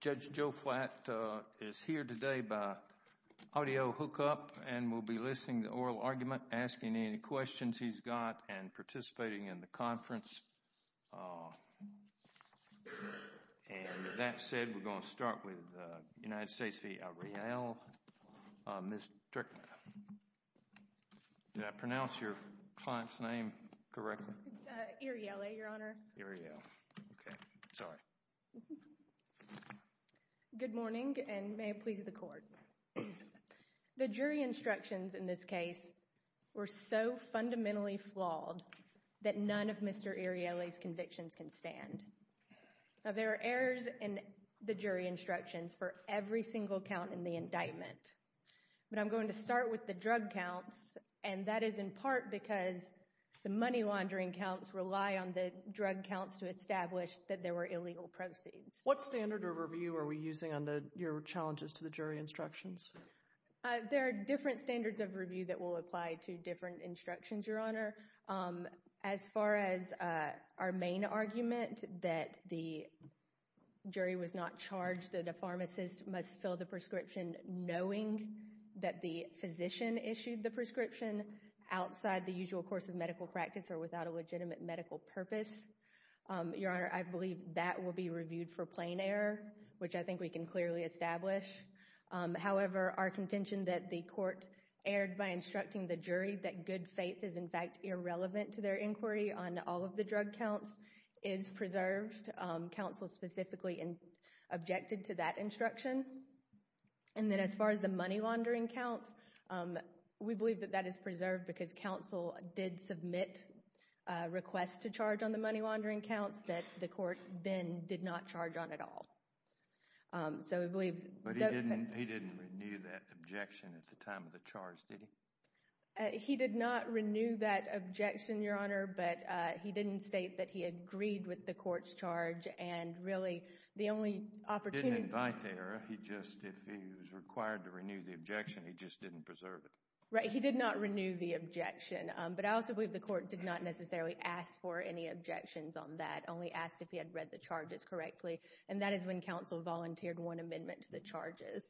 Judge Joe Flatt is here today by audio hookup and will be listing the oral argument, asking any questions he's got, and participating in the conference. That said, we're going to start with the United States v. Iriele. Ms. Strickland, did I pronounce your client's name correctly? It's Iriele, Your Honor. Iriele. Okay. Sorry. Good morning, and may it please the Court. The jury instructions in this case were so fundamentally flawed that none of Mr. Iriele's convictions can stand. Now, there are errors in the jury instructions for every single count in the indictment, but I'm going to start with the drug counts, and that is in part because the money laundering counts rely on the drug counts to establish that there were illegal proceeds. What standard of review are we using on your challenges to the jury instructions? There are different standards of review that will apply to different instructions, Your Honor. As far as our main argument, that the jury was not charged that a pharmacist must fill the prescription knowing that the physician issued the prescription outside the usual course of medical practice or without a legitimate medical purpose, Your Honor, I believe that will be reviewed for plain error, which I think we can clearly establish. However, our contention that the Court erred by instructing the jury that good faith is, in fact, irrelevant to their inquiry on all of the drug counts is preserved. Counsel specifically objected to that instruction. And then as far as the money laundering counts, we believe that that is preserved because counsel did submit a request to charge on the money laundering counts that the Court then did not charge on at all. So we believe that... But he didn't renew that objection at the time of the charge, did he? He did not renew that objection, Your Honor, but he didn't state that he agreed with the Court's charge and really the only opportunity... He didn't invite to error. He just, if he was required to renew the objection, he just didn't preserve it. Right, he did not renew the objection, but I also believe the Court did not necessarily ask for any objections on that, only asked if he had read the charges correctly. And that is when counsel volunteered one amendment to the charges.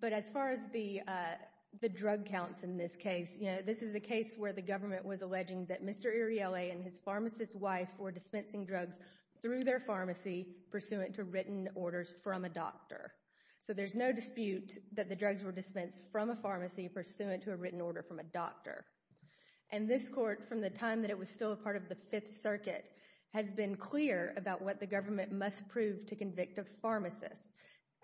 But as far as the drug counts in this case, you know, this is a case where the government was alleging that Mr. Ariely and his pharmacist wife were dispensing drugs through their pharmacy pursuant to written orders from a doctor. So there's no dispute that the drugs were dispensed from a pharmacy pursuant to a written order from a doctor. And this Court, from the time that it was still a part of the Fifth Circuit, has been clear about what the government must prove to convict a pharmacist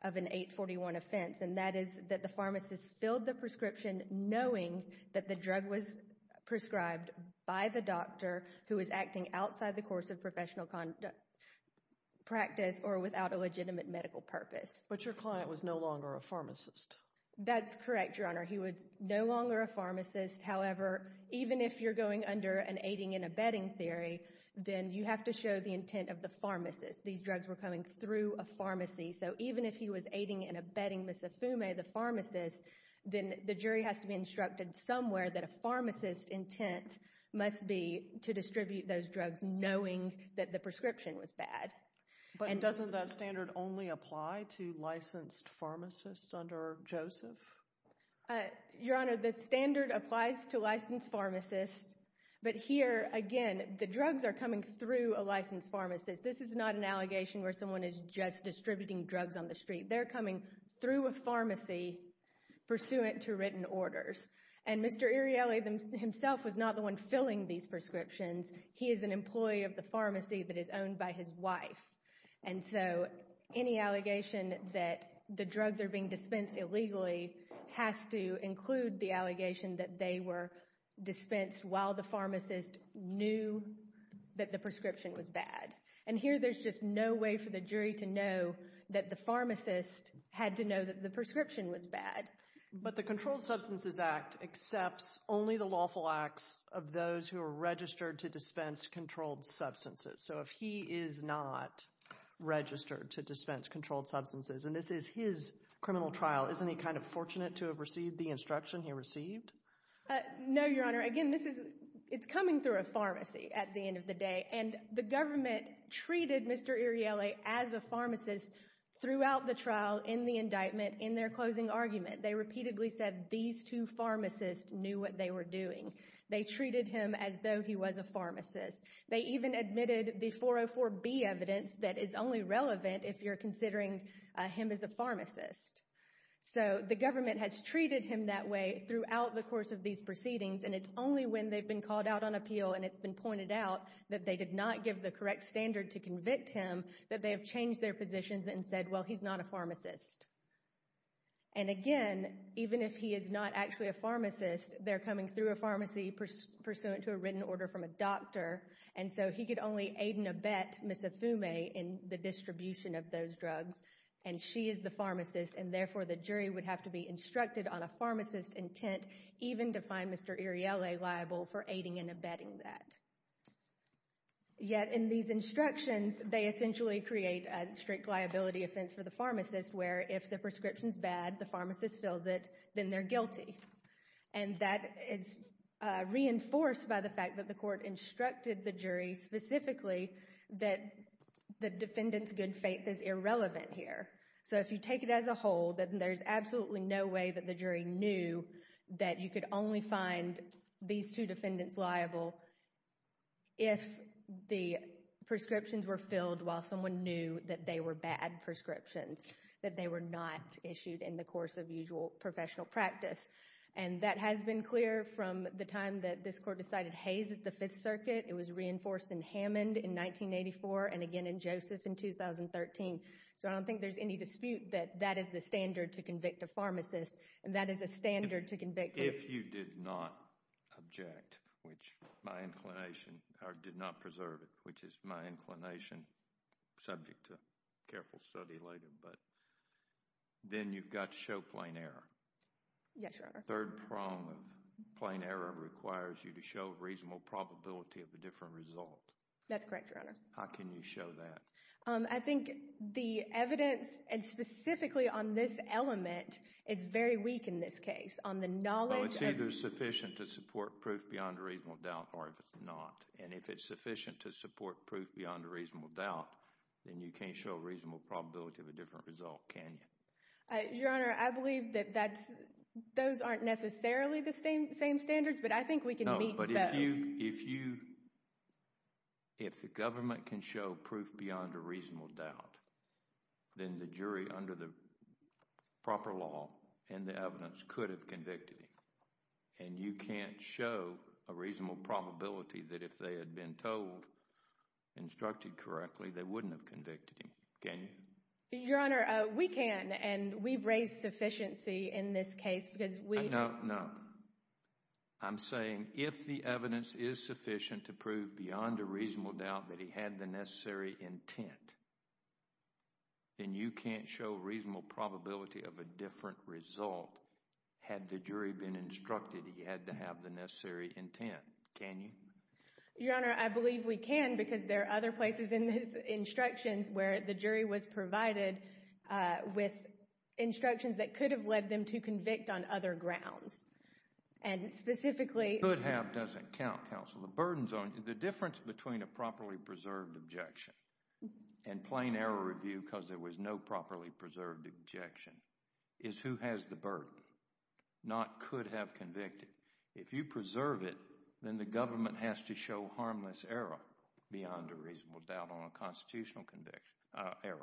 of an 841 offense, and that is that the pharmacist filled the prescription knowing that the drug was prescribed by the doctor who was acting outside the course of professional practice or without a legitimate medical purpose. But your client was no longer a pharmacist. That's correct, Your Honor. He was no longer a pharmacist. However, even if you're going under an aiding and abetting theory, then you have to show the intent of the pharmacist. These drugs were coming through a pharmacy. So even if he was aiding and abetting Ms. Afume, the pharmacist, then the jury has to be instructed somewhere that a pharmacist's intent must be to distribute those drugs knowing that the prescription was bad. But doesn't that standard only apply to licensed pharmacists under Joseph? Your Honor, the standard applies to licensed pharmacists, but here, again, the drugs are coming through a licensed pharmacist. This is not an allegation where someone is just distributing drugs on the street. They're coming through a pharmacy pursuant to written orders. And Mr. Iriele himself was not the one filling these prescriptions. He is an employee of the pharmacy that is owned by his wife. And so any allegation that the drugs are being dispensed illegally has to include the allegation that they were dispensed while the pharmacist knew that the prescription was bad. And here, there's just no way for the jury to know that the pharmacist had to know that the prescription was bad. But the Controlled Substances Act accepts only the lawful acts of those who are registered to dispense controlled substances. So if he is not registered to dispense controlled substances, and this is his criminal trial, isn't he kind of fortunate to have received the instruction he received? No, Your Honor. Again, this is, it's coming through a pharmacy at the end of the day. And the government treated Mr. Iriele as a pharmacist throughout the trial, in the indictment, and in their closing argument, they repeatedly said these two pharmacists knew what they were doing. They treated him as though he was a pharmacist. They even admitted the 404B evidence that is only relevant if you're considering him as a pharmacist. So the government has treated him that way throughout the course of these proceedings, and it's only when they've been called out on appeal and it's been pointed out that they did not give the correct standard to convict him that they have changed their positions and said, well, he's not a pharmacist. And again, even if he is not actually a pharmacist, they're coming through a pharmacy pursuant to a written order from a doctor, and so he could only aid and abet Ms. Ifume in the distribution of those drugs, and she is the pharmacist, and therefore the jury would have to be instructed on a pharmacist's intent even to find Mr. Iriele liable for aiding and abetting that. Yet in these instructions, they essentially create a strict liability offense for the pharmacist where if the prescription's bad, the pharmacist fills it, then they're guilty. And that is reinforced by the fact that the court instructed the jury specifically that the defendant's good faith is irrelevant here. So if you take it as a whole, then there's absolutely no way that the jury knew that you could only find these two defendants liable if the prescriptions were filled while someone knew that they were bad prescriptions, that they were not issued in the course of usual professional practice. And that has been clear from the time that this court decided Hayes is the Fifth Circuit. It was reinforced in Hammond in 1984 and again in Joseph in 2013. So I don't think there's any dispute that that is the standard to convict a pharmacist and that is the standard to convict a... If you did not object, which my inclination, or did not preserve it, which is my inclination subject to careful study later, but then you've got to show plain error. Yes, Your Honor. Third prong of plain error requires you to show reasonable probability of a different result. That's correct, Your Honor. How can you show that? I think the evidence, and specifically on this element, is very weak in this case. On the knowledge of... Well, it's either sufficient to support proof beyond a reasonable doubt or if it's not. And if it's sufficient to support proof beyond a reasonable doubt, then you can't show a reasonable probability of a different result, can you? Your Honor, I believe that those aren't necessarily the same standards, but I think we can meet those. If the government can show proof beyond a reasonable doubt, then the jury under the proper law and the evidence could have convicted him. And you can't show a reasonable probability that if they had been told, instructed correctly, they wouldn't have convicted him, can you? Your Honor, we can, and we've raised sufficiency in this case because we... No, no. I'm saying if the evidence is sufficient to prove beyond a reasonable doubt that he had the necessary intent, then you can't show a reasonable probability of a different result had the jury been instructed he had to have the necessary intent, can you? Your Honor, I believe we can because there are other places in his instructions where the jury was provided with instructions that could have led them to convict on other grounds. And specifically... Could have doesn't count, counsel. The burden's on you. The difference between a properly preserved objection and plain error review because there was no properly preserved objection is who has the burden, not could have convicted. If you preserve it, then the government has to show harmless error beyond a reasonable doubt on a constitutional error.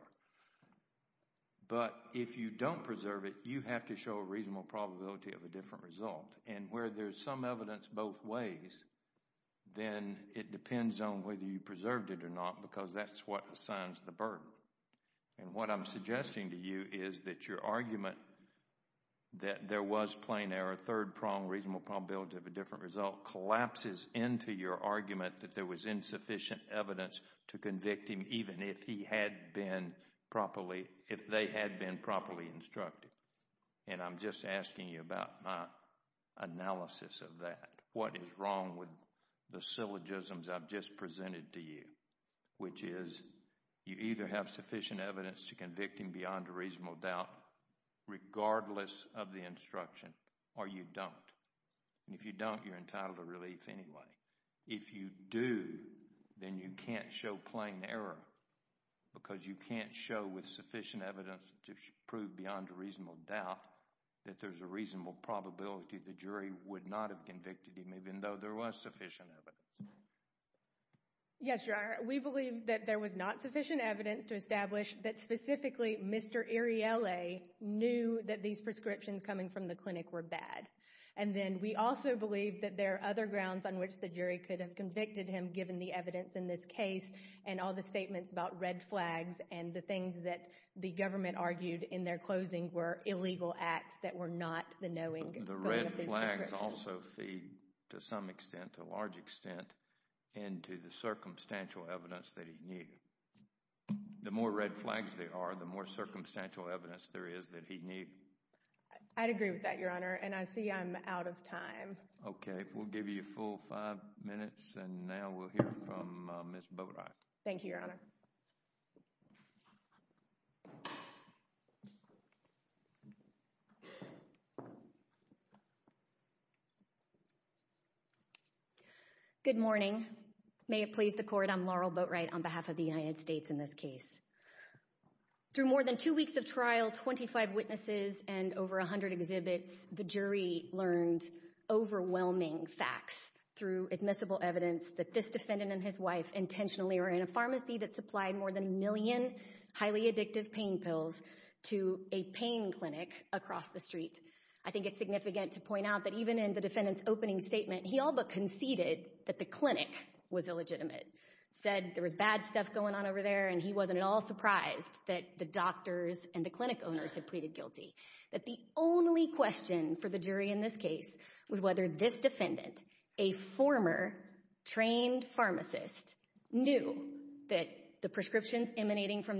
But if you don't preserve it, you have to show a reasonable probability of a different result. And where there's some evidence both ways, then it depends on whether you preserved it or not because that's what assigns the burden. And what I'm suggesting to you is that your argument that there was plain error, third prong, reasonable probability of a different result, collapses into your argument that there was insufficient evidence to convict him even if he had been properly... If they had been properly instructed. And I'm just asking you about my analysis of that. What is wrong with the syllogisms I've just presented to you, which is you either have sufficient evidence to convict him beyond a reasonable doubt regardless of the instruction or you don't. And if you don't, you're entitled to relief anyway. If you do, then you can't show plain error because you can't show with sufficient evidence to prove beyond a reasonable doubt that there's a reasonable probability the jury would not have convicted him even though there was sufficient evidence. Yes, Your Honor. We believe that there was not sufficient evidence to establish that specifically Mr. Ariela knew that these prescriptions coming from the clinic were bad. And then we also believe that there are other grounds on which the jury could have convicted him given the evidence in this case and all the statements about red flags and the things that the government argued in their closing were illegal acts that were not the knowing of these prescriptions. The red flags also feed to some extent, to a large extent, into the circumstantial evidence that he knew. The more red flags there are, the more circumstantial evidence there is that he knew. I'd agree with that, Your Honor. And I see I'm out of time. Okay. We'll give you a full five minutes and now we'll hear from Ms. Boatwright. Thank you, Your Honor. Good morning. May it please the Court, I'm Laurel Boatwright on behalf of the United States in this case. Through more than two weeks of trial, 25 witnesses, and over 100 exhibits, the jury learned overwhelming facts through admissible evidence that this defendant and his wife intentionally were in a pharmacy that supplied more than a million highly addictive pain pills to a pain clinic across the street. I think it's significant to point out that even in the defendant's opening statement, he all but conceded that the clinic was illegitimate, said there was bad stuff going on over there and he wasn't at all surprised that the doctors and the clinic owners had pleaded guilty. That the only question for the jury in this case was whether this defendant, a former trained pharmacist, knew that the prescriptions emanating from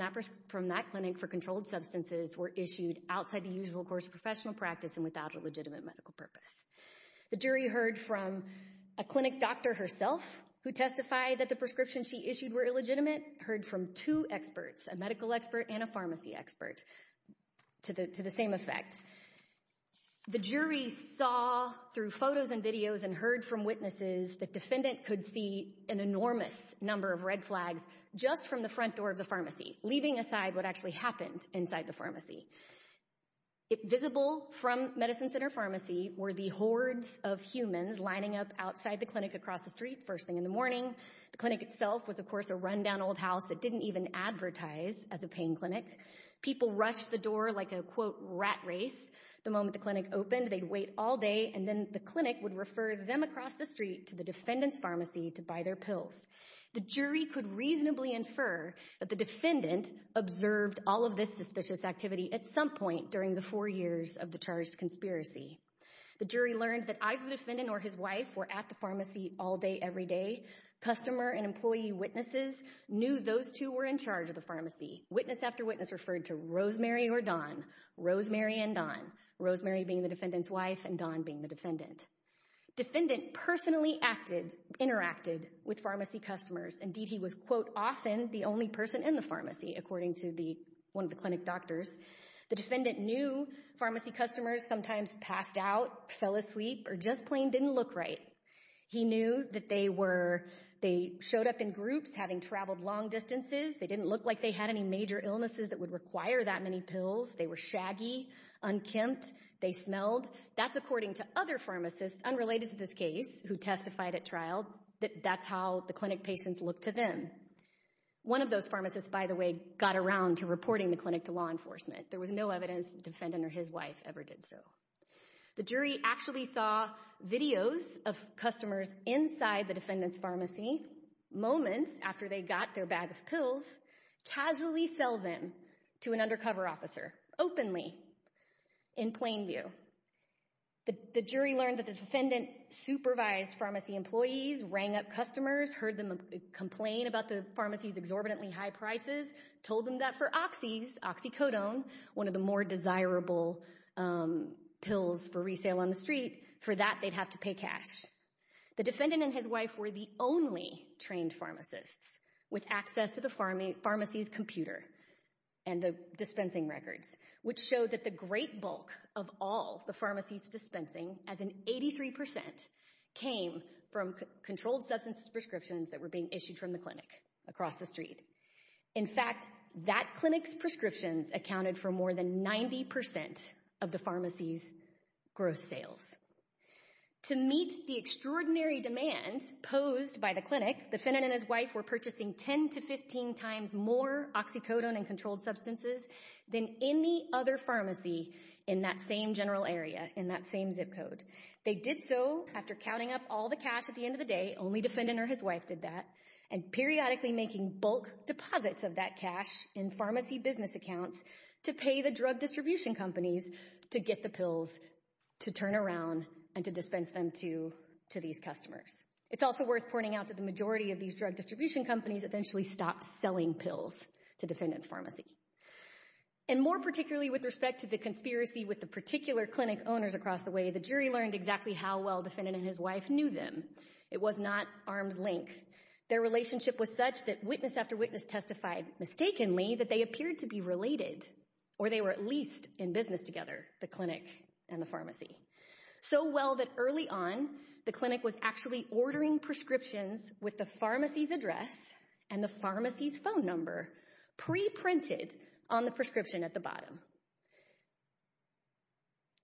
that clinic for controlled substances were issued outside the usual course of professional practice and without a legitimate medical purpose. The jury heard from a clinic doctor herself who testified that the prescriptions she issued were illegitimate, heard from two experts, a medical expert and a pharmacy expert, to the same effect. The jury saw through photos and videos and heard from witnesses that defendant could see an enormous number of red flags just from the front door of the pharmacy, leaving aside what actually happened inside the pharmacy. Visible from Medicine Center Pharmacy were the hordes of humans lining up outside the clinic across the street first thing in the morning. The clinic itself was, of course, a rundown old house that didn't even advertise as a pain clinic. People rushed the door like a, quote, rat race. The moment the clinic opened, they'd wait all day and then the clinic would refer them across the street to the defendant's pharmacy to buy their pills. The jury could reasonably infer that the defendant observed all of this suspicious activity at some point during the four years of the charged conspiracy. The jury learned that either the defendant or his wife were at the pharmacy all day, every day. Customer and employee witnesses knew those two were in charge of the pharmacy. Witness after witness referred to Rosemary or Dawn, Rosemary and Dawn, Rosemary being the defendant's wife and Dawn being the defendant. Defendant personally acted, interacted with pharmacy customers. Indeed, he was, quote, often the only person in the pharmacy, according to one of the clinic doctors. The defendant knew pharmacy customers sometimes passed out, fell asleep, or just plain didn't look right. He knew that they were, they showed up in groups, having traveled long distances. They didn't look like they had any major illnesses that would require that many pills. They were shaggy, unkempt, they smelled. That's according to other pharmacists, unrelated to this case, who testified at trial, that that's how the clinic patients looked to them. One of those pharmacists, by the way, got around to reporting the clinic to law enforcement. There was no evidence the defendant or his wife ever did so. The jury actually saw videos of customers inside the defendant's pharmacy moments after they got their bag of pills, casually sell them to an undercover officer, openly, in plain view. The jury learned that the defendant supervised pharmacy employees, rang up customers, heard them complain about the pharmacy's exorbitantly high prices, told them that for oxys, oxycodone, one of the more desirable pills for resale on the street, for that they'd have to pay cash. The defendant and his wife were the only trained pharmacists with access to the pharmacy's computer and the dispensing records, which showed that the great bulk of all the pharmacy's prescriptions that were being issued from the clinic across the street. In fact, that clinic's prescriptions accounted for more than 90% of the pharmacy's gross sales. To meet the extraordinary demands posed by the clinic, the defendant and his wife were purchasing 10 to 15 times more oxycodone and controlled substances than any other pharmacy in that same general area, in that same zip code. They did so after counting up all the cash at the end of the day, only defendant or his wife did that, and periodically making bulk deposits of that cash in pharmacy business accounts to pay the drug distribution companies to get the pills to turn around and to dispense them to these customers. It's also worth pointing out that the majority of these drug distribution companies eventually stopped selling pills to defendant's pharmacy. And more particularly with respect to the conspiracy with the particular clinic owners across the way, the jury learned exactly how well defendant and his wife knew them. It was not arm's length. Their relationship was such that witness after witness testified mistakenly that they appeared to be related, or they were at least in business together, the clinic and the pharmacy. So well that early on, the clinic was actually ordering prescriptions with the pharmacy's address and the pharmacy's phone number pre-printed on the prescription at the bottom.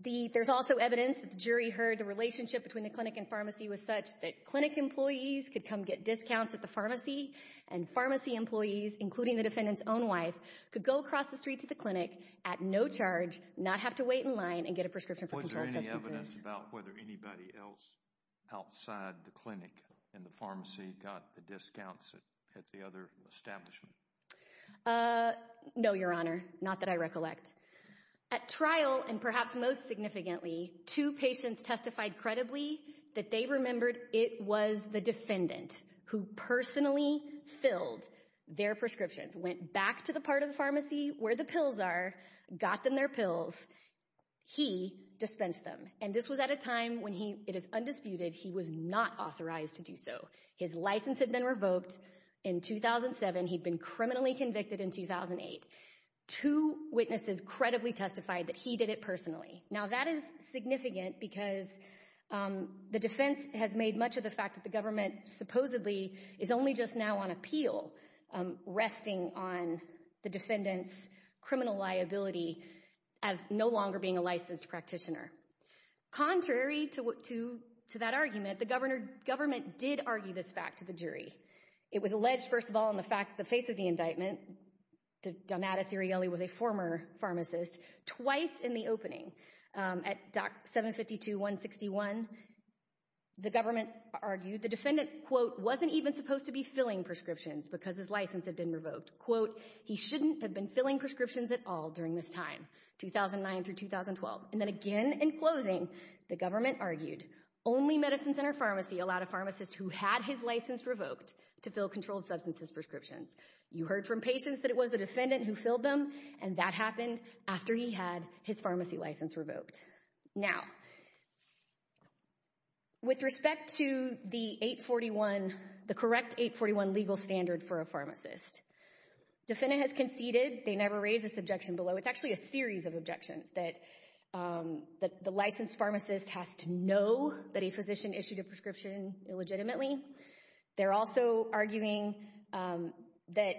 There's also evidence that the jury heard the relationship between the clinic and pharmacy was such that clinic employees could come get discounts at the pharmacy, and pharmacy employees, including the defendant's own wife, could go across the street to the clinic at no charge, not have to wait in line, and get a prescription for controlled substances. Was there any evidence about whether anybody else outside the clinic in the pharmacy got the discounts at the other establishment? No, Your Honor. Not that I recollect. At trial and perhaps most significantly, two patients testified credibly that they remembered it was the defendant who personally filled their prescriptions, went back to the part of the pharmacy where the pills are, got them their pills, he dispensed them. And this was at a time when he, it is undisputed, he was not authorized to do so. His license had been revoked in 2007. He'd been criminally convicted in 2008. Two witnesses credibly testified that he did it personally. Now that is significant because the defense has made much of the fact that the government supposedly is only just now on appeal, resting on the defendant's criminal liability as no longer being a licensed practitioner. Contrary to that argument, the government did argue this fact to the jury. It was alleged, first of all, in the face of the indictment, Donatus Sirielli was a former pharmacist, twice in the opening. At Doc 752-161, the government argued the defendant, quote, wasn't even supposed to be filling prescriptions because his license had been revoked, quote, he shouldn't have been filling prescriptions at all during this time, 2009 through 2012. And then again in closing, the government argued only Medicine Center Pharmacy allowed a pharmacist who had his license revoked to fill controlled substances prescriptions. You heard from patients that it was the defendant who filled them, and that happened after he had his pharmacy license revoked. Now, with respect to the 841, the correct 841 legal standard for a pharmacist, defendant has conceded, they never raised this objection below. It's actually a series of objections that the licensed pharmacist has to know that a pharmacist is not a pharmacist, illegitimately. They're also arguing that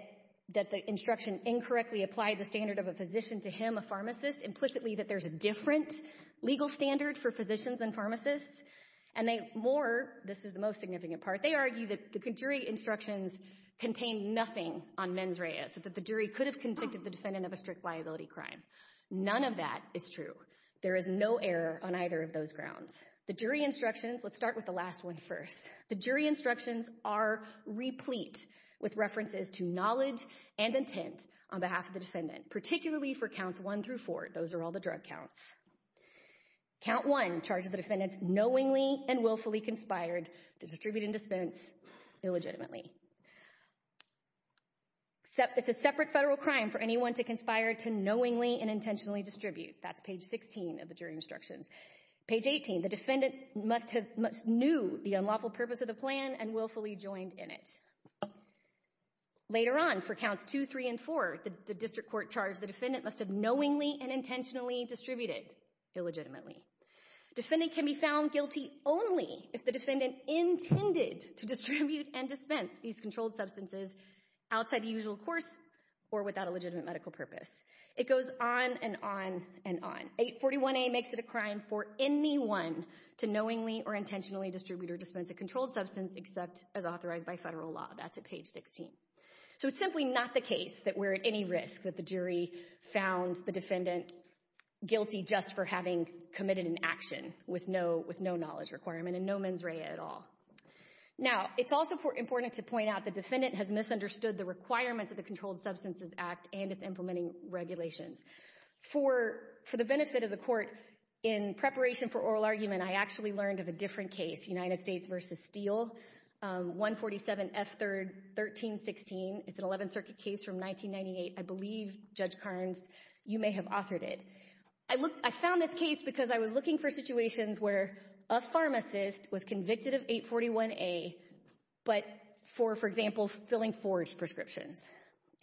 the instruction incorrectly applied the standard of a physician to him, a pharmacist, implicitly that there's a different legal standard for physicians than pharmacists. And they more, this is the most significant part, they argue that the jury instructions contain nothing on mens rea, so that the jury could have convicted the defendant of a strict liability crime. None of that is true. There is no error on either of those grounds. The jury instructions, let's start with the last one first, the jury instructions are replete with references to knowledge and intent on behalf of the defendant, particularly for counts one through four. Those are all the drug counts. Count one charges the defendants knowingly and willfully conspired to distribute and dispense illegitimately. It's a separate federal crime for anyone to conspire to knowingly and intentionally distribute. That's page 16 of the jury instructions. Page 18, the defendant must have knew the unlawful purpose of the plan and willfully joined in it. Later on for counts two, three, and four, the district court charged the defendant must have knowingly and intentionally distributed illegitimately. Defendant can be found guilty only if the defendant intended to distribute and dispense these controlled substances outside the usual course or without a legitimate medical purpose. It goes on and on and on. 841A makes it a crime for anyone to knowingly or intentionally distribute or dispense a controlled substance except as authorized by federal law. That's at page 16. So it's simply not the case that we're at any risk that the jury found the defendant guilty just for having committed an action with no knowledge requirement and no mens rea at all. Now, it's also important to point out the defendant has misunderstood the requirements of the Controlled Substances Act and its implementing regulations. For the benefit of the court, in preparation for oral argument, I actually learned of a different case, United States v. Steele, 147F3-1316. It's an 11th Circuit case from 1998. I believe, Judge Carnes, you may have authored it. I found this case because I was looking for situations where a pharmacist was convicted of 841A, but for, for example, filling forged prescriptions.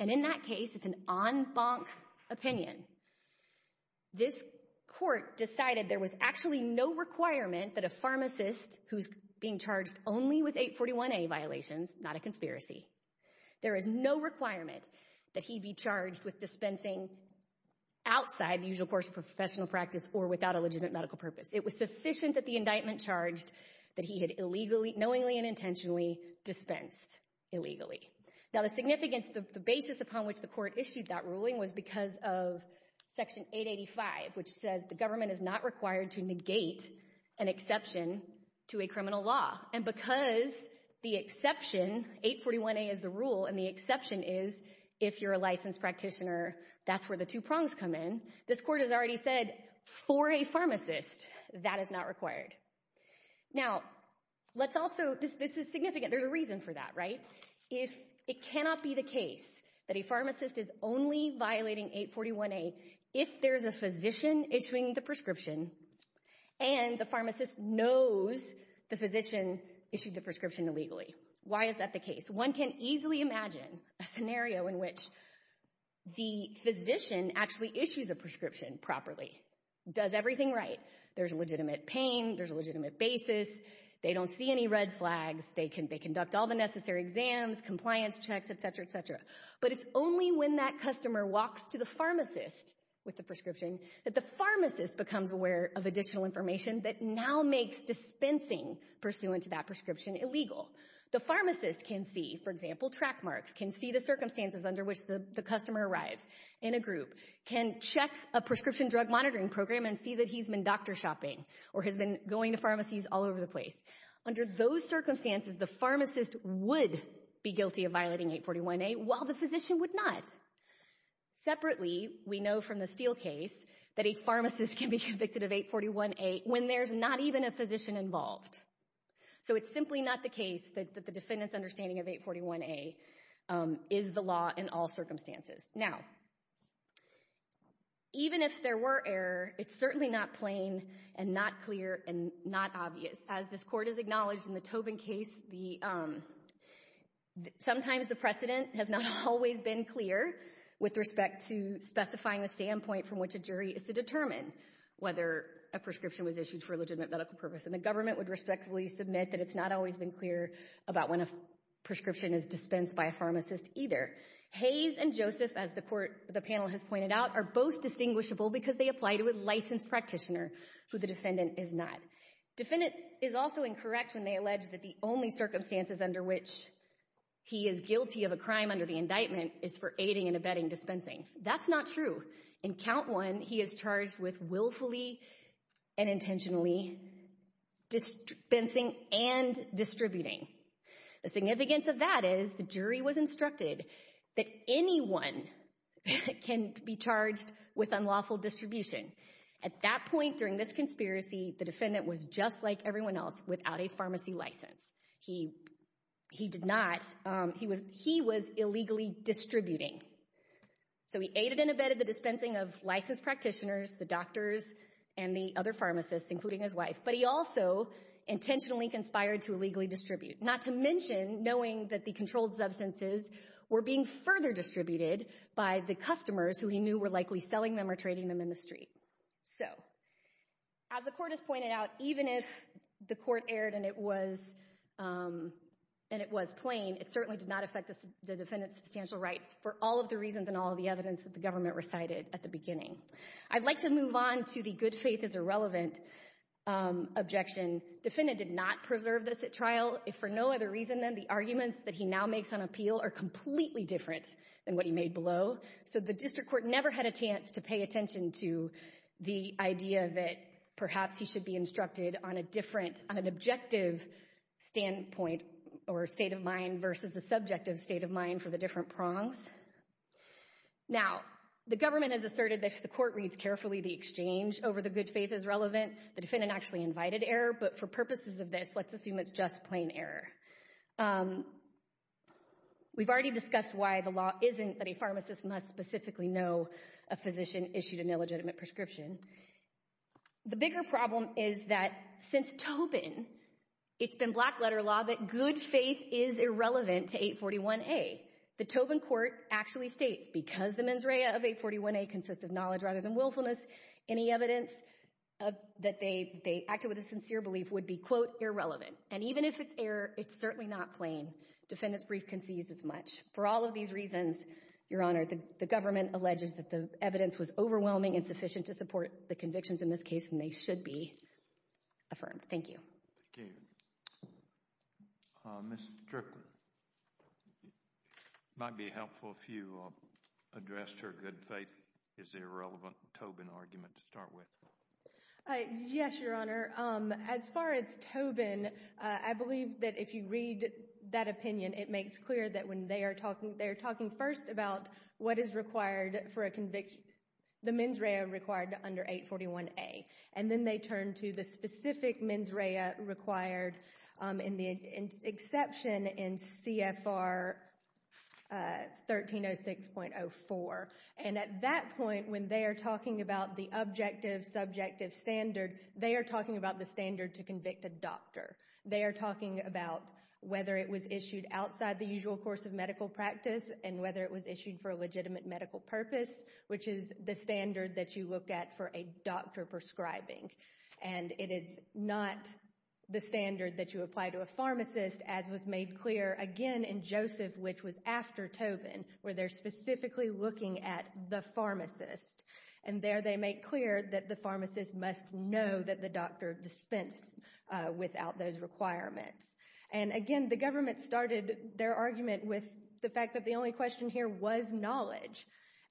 And in that case, it's an en banc opinion. This court decided there was actually no requirement that a pharmacist who's being charged only with 841A violations, not a conspiracy, there is no requirement that he be charged with dispensing outside the usual course of professional practice or without a legitimate medical purpose. It was sufficient that the indictment charged that he had knowingly and intentionally dispensed illegally. Now, the significance, the basis upon which the court issued that ruling was because of Section 885, which says the government is not required to negate an exception to a criminal law. And because the exception, 841A is the rule, and the exception is if you're a licensed practitioner, that's where the two prongs come in, this court has already said, for a pharmacist, that is not required. Now, let's also, this is significant, there's a reason for that, right? If it cannot be the case that a pharmacist is only violating 841A if there's a physician issuing the prescription and the pharmacist knows the physician issued the prescription illegally. Why is that the case? One can easily imagine a scenario in which the physician actually issues a prescription properly, does everything right. There's a legitimate pain, there's a legitimate basis, they don't see any red flags, they conduct all the necessary exams, compliance checks, et cetera, et cetera. But it's only when that customer walks to the pharmacist with the prescription that the pharmacist becomes aware of additional information that now makes dispensing pursuant to that prescription illegal. The pharmacist can see, for example, track marks, can see the circumstances under which the customer arrives in a group, can check a prescription drug monitoring program and see that he's been doctor shopping or has been going to pharmacies all over the place. Under those circumstances, the pharmacist would be guilty of violating 841A while the physician would not. Separately, we know from the Steele case that a pharmacist can be convicted of 841A when there's not even a physician involved. So it's simply not the case that the defendant's understanding of 841A is the law in all circumstances. Now, even if there were error, it's certainly not plain and not clear and not obvious as this court has acknowledged in the Tobin case. Sometimes the precedent has not always been clear with respect to specifying the standpoint from which a jury is to determine whether a prescription was issued for a legitimate medical purpose. And the government would respectfully submit that it's not always been clear about when a prescription is dispensed by a pharmacist either. Hayes and Joseph, as the panel has pointed out, are both distinguishable because they apply to a licensed practitioner who the defendant is not. The defendant is also incorrect when they allege that the only circumstances under which he is guilty of a crime under the indictment is for aiding and abetting dispensing. That's not true. In count one, he is charged with willfully and intentionally dispensing and distributing. The significance of that is the jury was instructed that anyone can be charged with unlawful distribution. At that point during this conspiracy, the defendant was just like everyone else without a pharmacy license. He did not. He was illegally distributing. So he aided and abetted the dispensing of licensed practitioners, the doctors, and the other pharmacists, including his wife. But he also intentionally conspired to illegally distribute, not to mention knowing that the controlled substances were being further distributed by the customers who he knew were likely selling them or trading them in the street. So as the court has pointed out, even if the court erred and it was plain, it certainly did not affect the defendant's substantial rights for all of the reasons and all of the evidence that the government recited at the beginning. I'd like to move on to the good faith is irrelevant objection. Defendant did not preserve this at trial if for no other reason than the arguments that he now makes on appeal are completely different than what he made below. So the district court never had a chance to pay attention to the idea that perhaps he should be instructed on a different, on an objective standpoint or state of mind versus the subjective state of mind for the different prongs. Now the government has asserted that if the court reads carefully, the exchange over the good faith is relevant. The defendant actually invited error. But for purposes of this, let's assume it's just plain error. We've already discussed why the law isn't that a pharmacist must specifically know a physician issued an illegitimate prescription. The bigger problem is that since Tobin, it's been black letter law that good faith is irrelevant to 841A. The Tobin court actually states because the mens rea of 841A consists of knowledge rather than willfulness, any evidence that they acted with a sincere belief would be quote irrelevant. And even if it's error, it's certainly not plain. Defendant's brief concedes as much. For all of these reasons, Your Honor, the government alleges that the evidence was overwhelming and sufficient to support the convictions in this case and they should be affirmed. Thank you. Thank you. Ms. Strickland. It might be helpful if you addressed her good faith is irrelevant Tobin argument to start with. Yes, Your Honor. As far as Tobin, I believe that if you read that opinion, it makes clear that when they are talking, they're talking first about what is required for a conviction, the mens rea required under 841A. And then they turn to the specific mens rea required in the exception in CFR 1306.04. And at that point, when they are talking about the objective subjective standard, they are talking about the standard to convict a doctor. They are talking about whether it was issued outside the usual course of medical practice and whether it was issued for a legitimate medical purpose, which is the standard that you look at for a doctor prescribing. And it is not the standard that you apply to a pharmacist, as was made clear again in Joseph, which was after Tobin, where they're specifically looking at the pharmacist. And there they make clear that the pharmacist must know that the doctor dispensed without those requirements. And again, the government started their argument with the fact that the only question here was knowledge.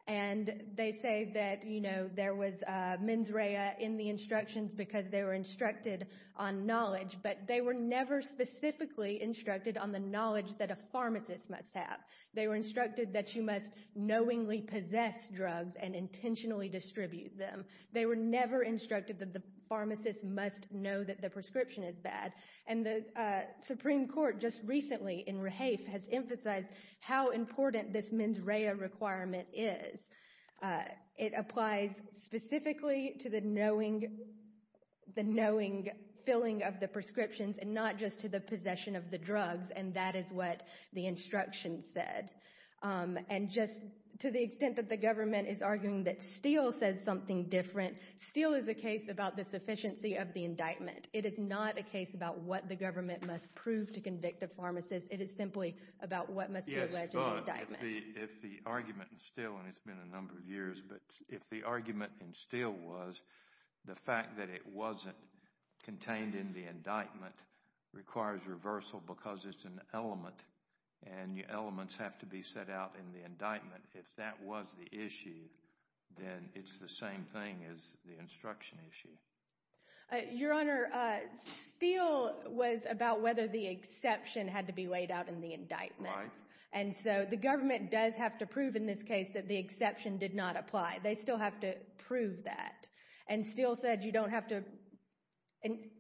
And they say that, you know, there was mens rea in the instructions because they were instructed on knowledge, but they were never specifically instructed on the knowledge that a pharmacist must have. They were instructed that you must knowingly possess drugs and intentionally distribute them. They were never instructed that the pharmacist must know that the prescription is bad. And the Supreme Court just recently in Rehaef has emphasized how important this mens rea requirement is. It applies specifically to the knowing filling of the prescriptions and not just to the possession of the drugs. And that is what the instructions said. And just to the extent that the government is arguing that Steele said something different, Steele is a case about the sufficiency of the indictment. It is not a case about what the government must prove to convict a pharmacist. It is simply about what must be alleged in the indictment. Yes, but if the argument in Steele, and it's been a number of years, but if the argument in Steele was the fact that it wasn't contained in the indictment requires reversal because it's an element and the elements have to be set out in the indictment, if that was the issue, then it's the same thing as the instruction issue. Your Honor, Steele was about whether the exception had to be laid out in the indictment. And so the government does have to prove in this case that the exception did not apply. They still have to prove that. And Steele said you don't have to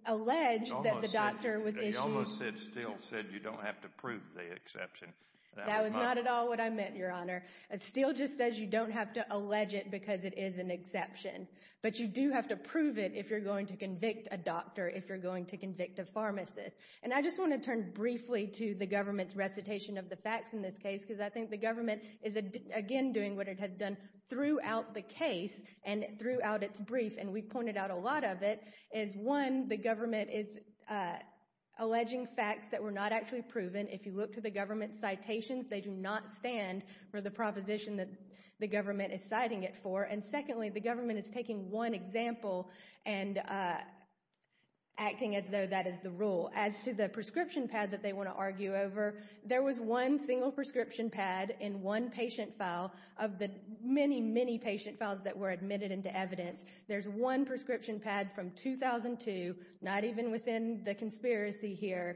allege that the doctor was issued. And you almost said Steele said you don't have to prove the exception. That was not at all what I meant, Your Honor. Steele just says you don't have to allege it because it is an exception. But you do have to prove it if you're going to convict a doctor, if you're going to convict a pharmacist. And I just want to turn briefly to the government's recitation of the facts in this case because I think the government is again doing what it has done throughout the case and throughout its brief. And we pointed out a lot of it is one, the government is alleging facts that were not actually proven. If you look to the government's citations, they do not stand for the proposition that the government is citing it for. And secondly, the government is taking one example and acting as though that is the rule. As to the prescription pad that they want to argue over, there was one single prescription pad in one patient file of the many, many patient files that were admitted into evidence. There's one prescription pad from 2002, not even within the conspiracy here,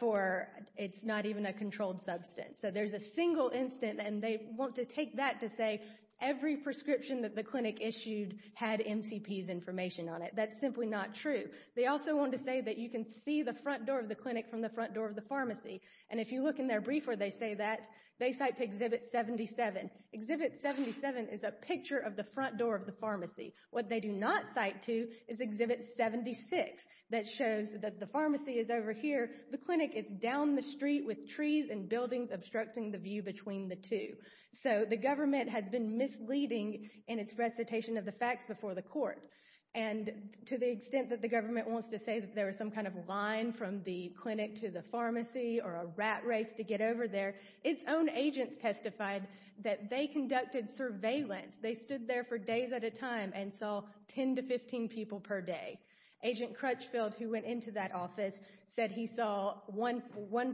for it's not even a controlled substance. So there's a single instance and they want to take that to say every prescription that the clinic issued had MCP's information on it. That's simply not true. They also want to say that you can see the front door of the clinic from the front door of the pharmacy. And if you look in their brief where they say that, they cite to exhibit 77. Exhibit 77 is a picture of the front door of the pharmacy. What they do not cite to is exhibit 76 that shows that the pharmacy is over here. The clinic is down the street with trees and buildings obstructing the view between the two. So the government has been misleading in its recitation of the facts before the court. And to the extent that the government wants to say that there was some kind of line from the clinic to the pharmacy or a rat race to get over there, it's own agents testified that they conducted surveillance. They stood there for days at a time and saw 10 to 15 people per day. Agent Crutchfield, who went into that office, said he saw one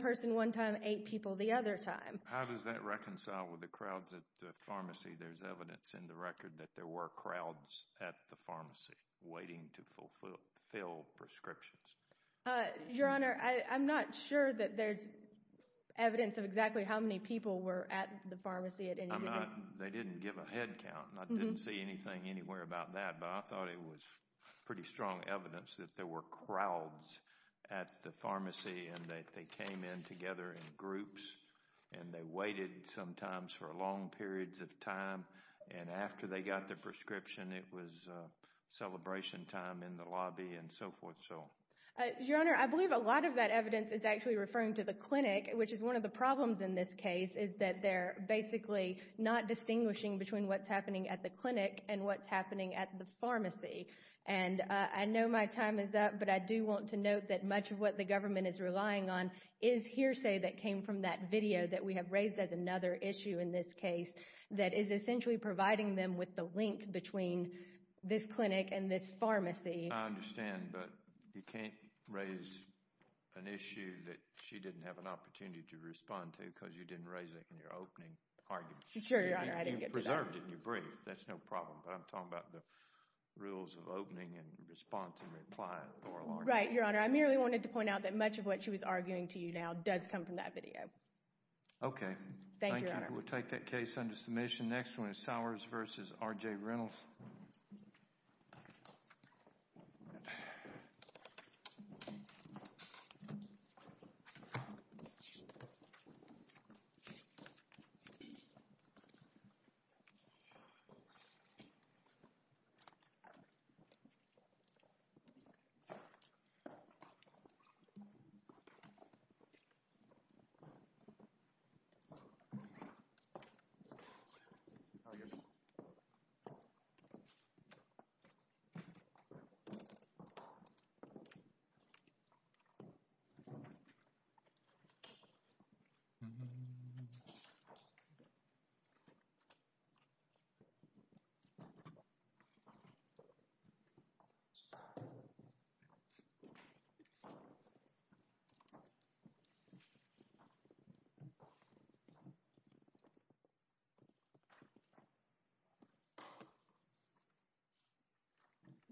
person one time, eight people the other time. How does that reconcile with the crowds at the pharmacy? There's evidence in the record that there were crowds at the pharmacy waiting to fill prescriptions. Your Honor, I'm not sure that there's evidence of exactly how many people were at the pharmacy at any given time. They didn't give a headcount. I didn't see anything anywhere about that, but I thought it was pretty strong evidence that there were crowds at the pharmacy and that they came in together in groups and they waited sometimes for long periods of time. And after they got their prescription, it was celebration time in the lobby and so forth. Your Honor, I believe a lot of that evidence is actually referring to the clinic, which is one of the problems in this case is that they're basically not distinguishing between what's happening at the clinic and what's happening at the pharmacy. And I know my time is up, but I do want to note that much of what the government is relying on is hearsay that came from that video that we have raised as another issue in this case that is essentially providing them with the link between this clinic and this pharmacy. I understand, but you can't raise an issue that she didn't have an opportunity to respond to because you didn't raise it in your opening argument. Sure, Your Honor. I didn't get to that. You preserved it in your brief. That's no problem. But I'm talking about the rules of opening and response and reply in oral arguments. Right, Your Honor. I merely wanted to point out that much of what she was arguing to you now does come from that video. Okay. Thank you, Your Honor. Thank you. We'll take that case under submission. The next one is Sowers v. R.J. Reynolds. Thank you, Your Honor.